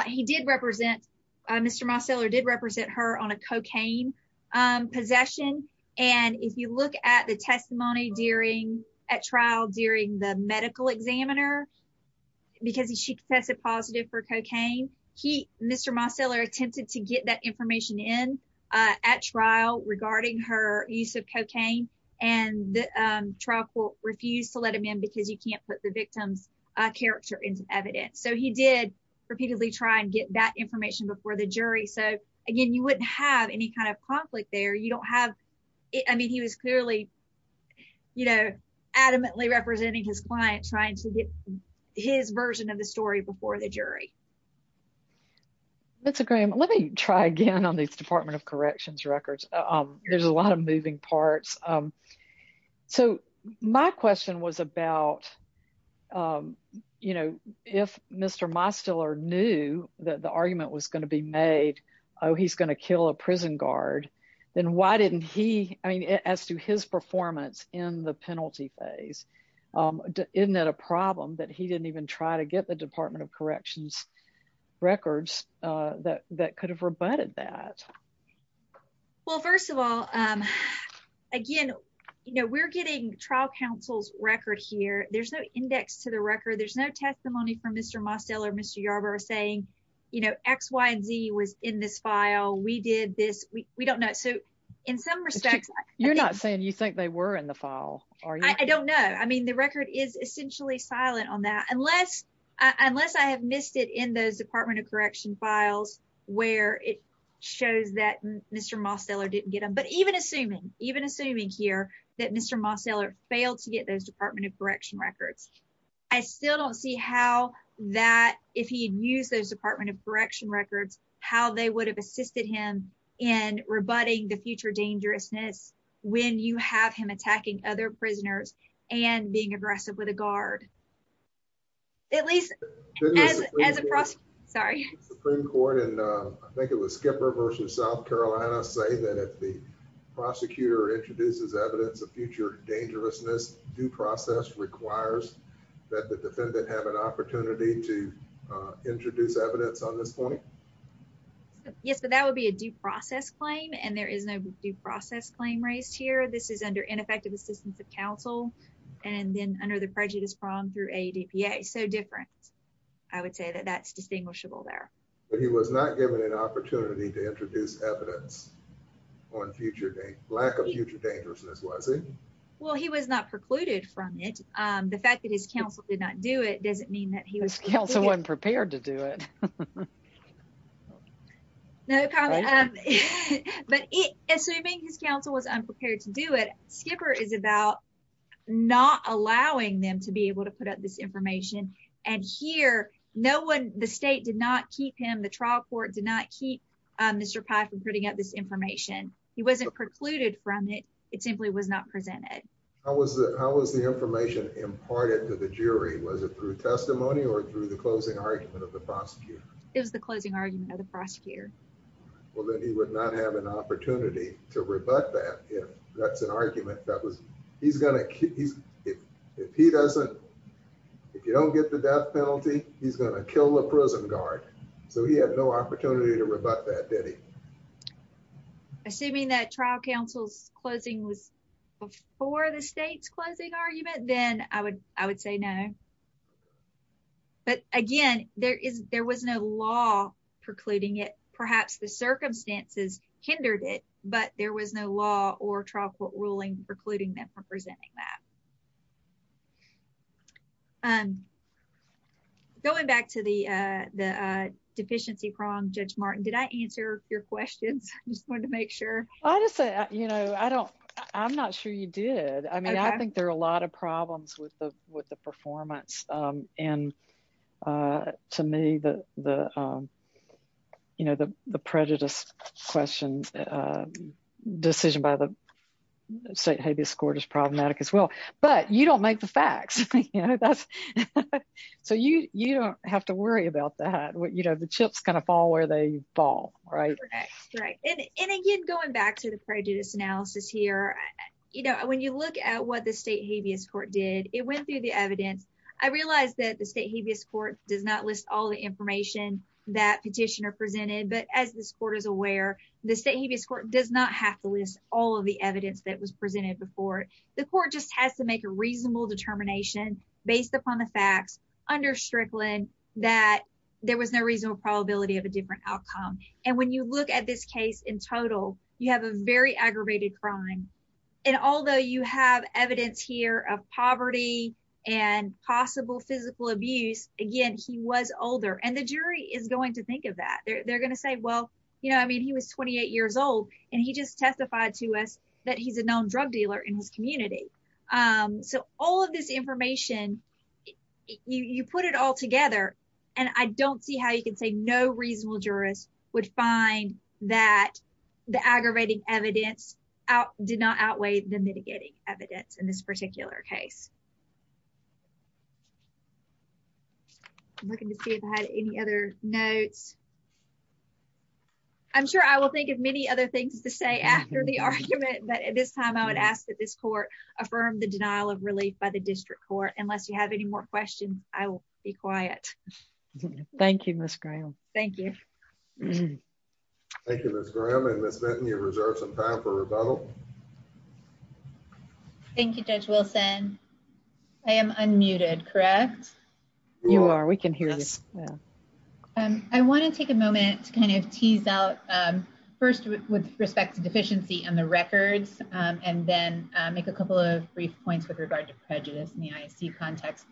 he did represent, Mr. Moseler did represent her on a cocaine possession. And if you look at the testimony during, at trial during the medical examiner, because she tested positive for cocaine, he, Mr. Moseler attempted to get that information in at trial regarding her use of cocaine. And the trial court refused to let him in because you can't put the victim's character into evidence. So he did repeatedly try and get that information before the jury. So again, you wouldn't have any kind of conflict there. You don't have, I mean, he was clearly, you know, adamantly representing his client trying to get his version of the story before the jury. That's a great, let me try again on these Department of Corrections records. There's a lot of moving parts. So my question was about, you know, if Mr. Moseler knew that the argument was going to be made, oh, he's going to kill a prison guard, then why didn't he, I mean, as to his performance in the penalty phase, isn't that a problem that he didn't even try to get the Department of Corrections records that could have rebutted that? Well, first of all, again, you know, we're getting trial counsel's record here. There's no index to the record. There's no testimony from Mr. Moseler, Mr. Yarbrough saying, you know, X, Y, and Z was in this file. We did this. We don't know. So in some respects, You're not saying you think they were in the file, are you? I don't know. I mean, the record is essentially silent on that. Unless I have missed it in those Department of Corrections files where it shows that Mr. Moseler didn't get them. But even assuming, even assuming here that Mr. Moseler failed to get those Department of Corrections records, I still don't see how that, if he had used those Department of Corrections records, how they would have assisted him in rebutting the future dangerousness when you have him attacking other prisoners and being aggressive with a guard. At least as a prosecutor. Sorry. Supreme Court and I think it was Skipper versus South Carolina say that if the prosecutor introduces evidence of future dangerousness, due process requires that the defendant have an opportunity to introduce evidence on this point. Yes, but that would be a due process claim and there is no due process claim raised here. This is under ineffective assistance of I would say that that's distinguishable there. But he was not given an opportunity to introduce evidence on future, lack of future dangerousness, was he? Well, he was not precluded from it. The fact that his counsel did not do it doesn't mean that he was. Counsel wasn't prepared to do it. No comment. But assuming his counsel was unprepared to do it, Skipper is about not allowing them to be able to put up this information. And here no one, the state did not keep him. The trial court did not keep Mr. Pye from putting up this information. He wasn't precluded from it. It simply was not presented. How was that? How was the information imparted to the jury? Was it through testimony or through the closing argument of the prosecutor? It was the closing argument of the prosecutor. Well, then he would not have an opportunity to rebut that if that's an argument that was he's going to, if he doesn't, if you don't get the death penalty, he's going to kill the prison guard. So he had no opportunity to rebut that, did he? Assuming that trial counsel's closing was before the state's closing argument, then I would, I would say no. But again, there is, there was no law precluding it. Perhaps the circumstances hindered it, but there was no law or trial court ruling precluding them from presenting that. Going back to the deficiency prong, Judge Martin, did I answer your questions? I just wanted to make sure. I just, you know, I don't, I'm not sure you did. I mean, I think there are a lot of problems with the, with the performance. And to me, the, you know, the, the prejudice questions, decision by the state habeas court is problematic as well, but you don't make the facts. So you, you don't have to worry about that. You know, the chips kind of fall where they fall, right? Right. And again, going back to the prejudice analysis here, you know, when you look at what the state habeas court did, it went through the that petitioner presented. But as this court is aware, the state habeas court does not have to list all of the evidence that was presented before it. The court just has to make a reasonable determination based upon the facts under Strickland that there was no reasonable probability of a different outcome. And when you look at this case in total, you have a very aggravated crime. And although you have evidence here of poverty and possible physical abuse, again, he was older and the jury is going to think of that. They're going to say, well, you know, I mean, he was 28 years old and he just testified to us that he's a known drug dealer in his community. So all of this information, you put it all together and I don't see how you can say no reasonable jurors would find that the aggravating evidence out did not outweigh the mitigating evidence in this particular case. Looking to see if I had any other notes. I'm sure I will think of many other things to say after the argument. But at this time, I would ask that this court affirm the denial of relief by the district court. Unless you have any more questions, I will be quiet. Thank you, Miss Graham. Thank you. Thank you, Miss Graham and Miss Benton, you reserve some time for rebuttal. Thank you, Judge Wilson. I am unmuted, correct? You are. We can hear you. I want to take a moment to kind of tease out first with respect to deficiency and the records and then make a couple of brief points with regard to prejudice in the ISE context.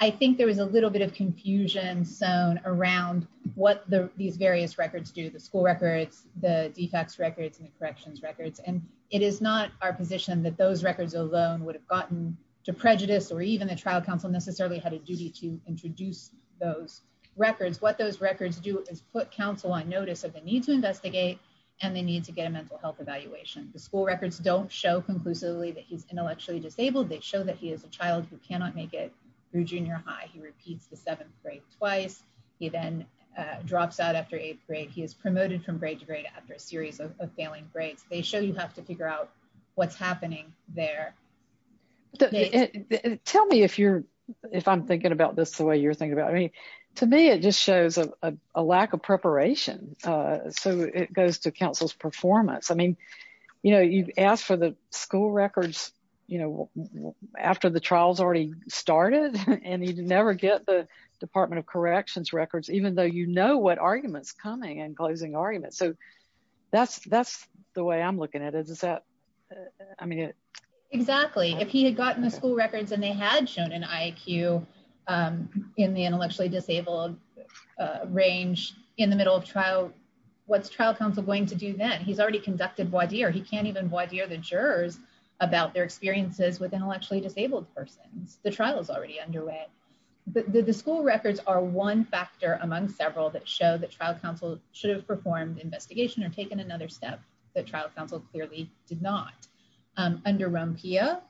I think there was a little bit of confusion sewn around what these various records do, the school records, the defects records and the corrections records. And it is not our that those records alone would have gotten to prejudice or even the trial counsel necessarily had a duty to introduce those records. What those records do is put counsel on notice of the need to investigate and the need to get a mental health evaluation. The school records don't show conclusively that he's intellectually disabled. They show that he is a child who cannot make it through junior high. He repeats the seventh grade twice. He then drops out after eighth grade. He is promoted from grade to grade after a series of failing grades. They show you have to figure out what's happening there. Tell me if you're if I'm thinking about this the way you're thinking about me. To me, it just shows a lack of preparation. So it goes to counsel's performance. I mean, you know, you've asked for the school records, you know, after the trials already started and you never get the Department of Corrections records, even though you know what arguments coming and closing arguments. So that's that's the way I'm looking at it. Is that I mean, exactly. If he had gotten the school records and they had shown an IQ in the intellectually disabled range in the middle of trial, what's trial counsel going to do that? He's already conducted what he or he can't even what year the jurors about their experiences with intellectually disabled persons. The trial is already underway. The school records are one factor among several that show that trial counsel should have performed investigation or taken another step. The trial counsel clearly did not under Rumpia.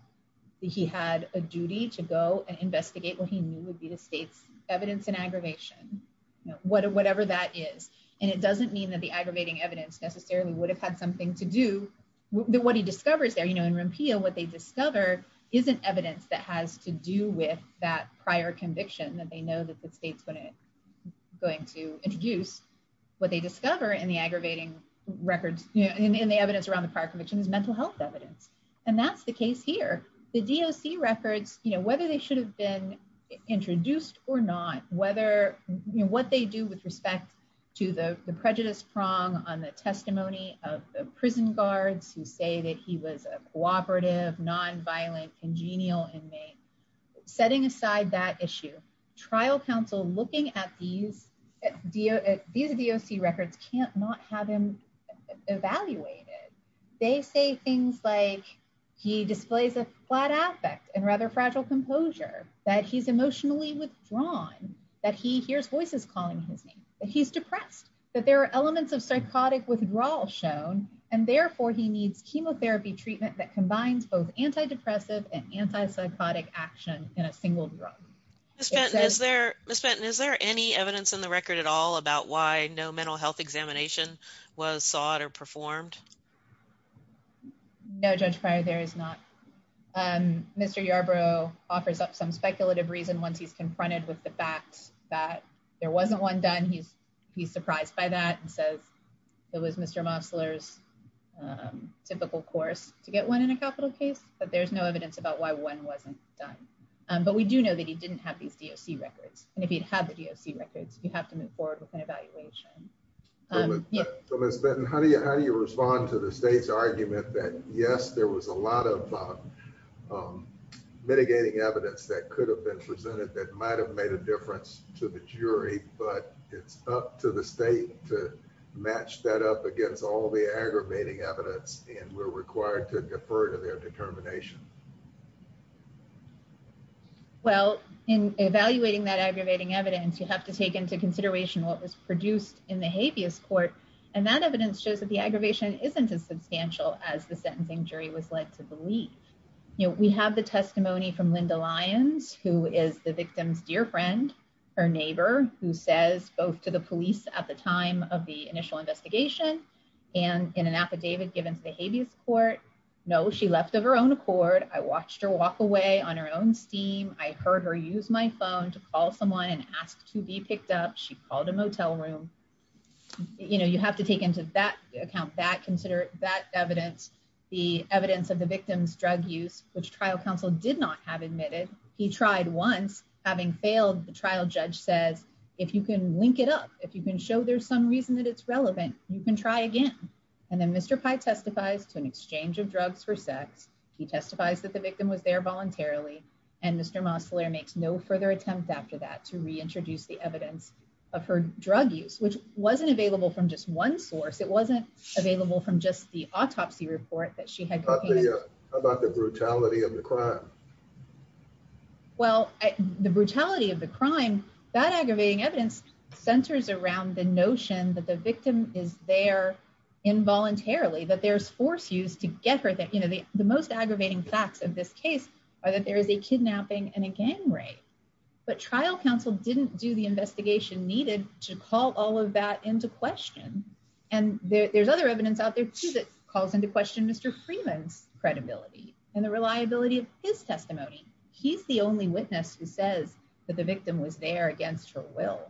He had a duty to go and investigate what he knew would be the state's evidence in aggravation, whatever that is. And it doesn't mean that the aggravating evidence necessarily would have had something to do with what he discovers there. You know, in Rumpia, what they discover isn't evidence that has to do with that prior conviction that they know that the state's going to introduce what they discover in the aggravating records in the evidence around the prior convictions, mental health evidence. And that's the case here. The DOC records, you know, whether they should have been introduced or not, whether what they do with respect to the prejudice prong on the testimony of the prison guards who say that he was a cooperative, nonviolent, congenial inmate, setting aside that issue. Trial counsel looking at these DOC records can't not have him evaluated. They say things like he displays a flat affect and rather fragile composure, that he's emotionally withdrawn, that he hears voices calling his name, that he's depressed, that there are elements of psychotic withdrawal shown, and therefore he needs chemotherapy treatment that combines both antidepressant and antipsychotic action in a single drug. Ms. Fenton, is there any evidence in the record at all about why no mental health examination was sought or performed? No, Judge Pryor, there is not. Mr. Yarbrough offers up some speculative reason once he's confronted with the fact that there wasn't one done. He's surprised by that and says it was Mr. Mosler's typical course to get one in a capital case, but there's no evidence about why one wasn't done. But we do know that he didn't have these DOC records, and if he'd had the DOC records, you have to move forward with an evaluation. Ms. Fenton, how do you respond to the state's argument that, yes, there was a lot of mitigating evidence that could have been presented that might have made a difference to the jury, but it's up to the state to match that up against all the aggravating evidence, and we're required to defer to their determination? Well, in evaluating that aggravating evidence, you have to take into consideration what was produced in the habeas court, and that evidence shows that the aggravation isn't as substantial as the sentencing jury was led to believe. You know, we have the testimony from Linda Lyons, who is the victim's dear friend, her neighbor, who says both to the police at the time of the initial investigation, and in an affidavit given to the habeas court, no, she left of her own accord. I watched her walk away on her own steam. I heard her use my phone to call someone and ask to be picked up. She called a motel room. You know, you have to take into that account, consider that evidence, the evidence of the victim's drug use, which trial counsel did not have admitted. He tried once. Having failed, the trial judge says, if you can link it up, if you can show there's some reason that it's relevant, you can try again. And then Mr. Pye testifies to an exchange of drugs for sex. He testifies that the victim was there voluntarily, and Mr. Mosler makes no further attempt after that to reintroduce the evidence of her drug use, which wasn't available from just one source. It wasn't available from just the autopsy report that she had. How about the brutality of the crime? Well, the brutality of the crime, that aggravating evidence centers around the notion that the victim is there involuntarily, that there's force used to get her there. You know, the most aggravating facts of this case are that there is a kidnapping and a gang rape. But trial counsel didn't do the investigation needed to call all of that into question. And there's other evidence out there that calls into question Mr. Freeman's credibility and the reliability of his testimony. He's the only witness who says that the victim was there against her will.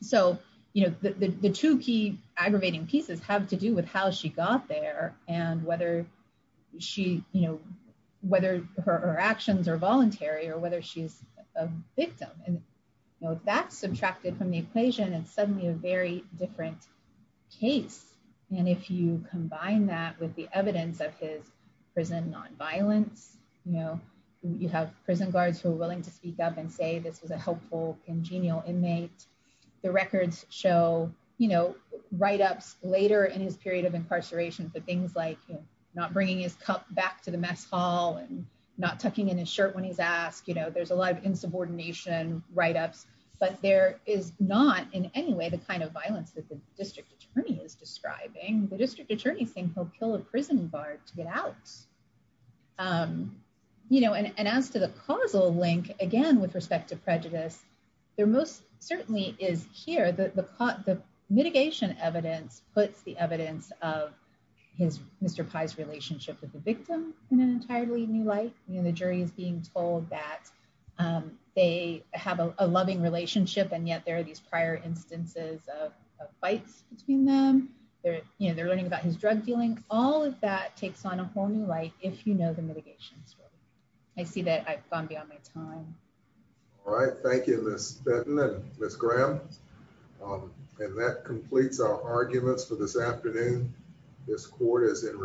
So, you know, the two key aggravating pieces have to do with how she got there and whether she, you know, whether her actions are voluntary or whether she's a victim. And, you know, that's subtracted from the equation and suddenly a very different case. And if you combine that with the evidence of his prison nonviolence, you know, you have prison guards who are willing to speak up and say this was a helpful congenial inmate. The records show, you know, write-ups later in his period of incarceration for things like not bringing his cup back to the mess hall and not tucking in his shirt when he's asked, you know, there's a lot of insubordination, write-ups, but there is not in any way the kind of violence that the district attorney is describing. The district attorney's saying he'll kill a prison guard to get out. You know, and as to the causal link, again, with respect to prejudice, there most certainly is here that the mitigation evidence puts the evidence of Mr. Pye's relationship with the victim in an entirely new light. You know, the jury is being told that they have a loving relationship and yet there are these prior instances of fights between them. They're, you know, they're learning about his drug dealing. All of that takes on a whole new light if you know the mitigation story. I see that I've gone beyond my time. All right. Thank you, Ms. Fenton and Ms. Graham. And that completes our arguments for this afternoon. This court is in recess.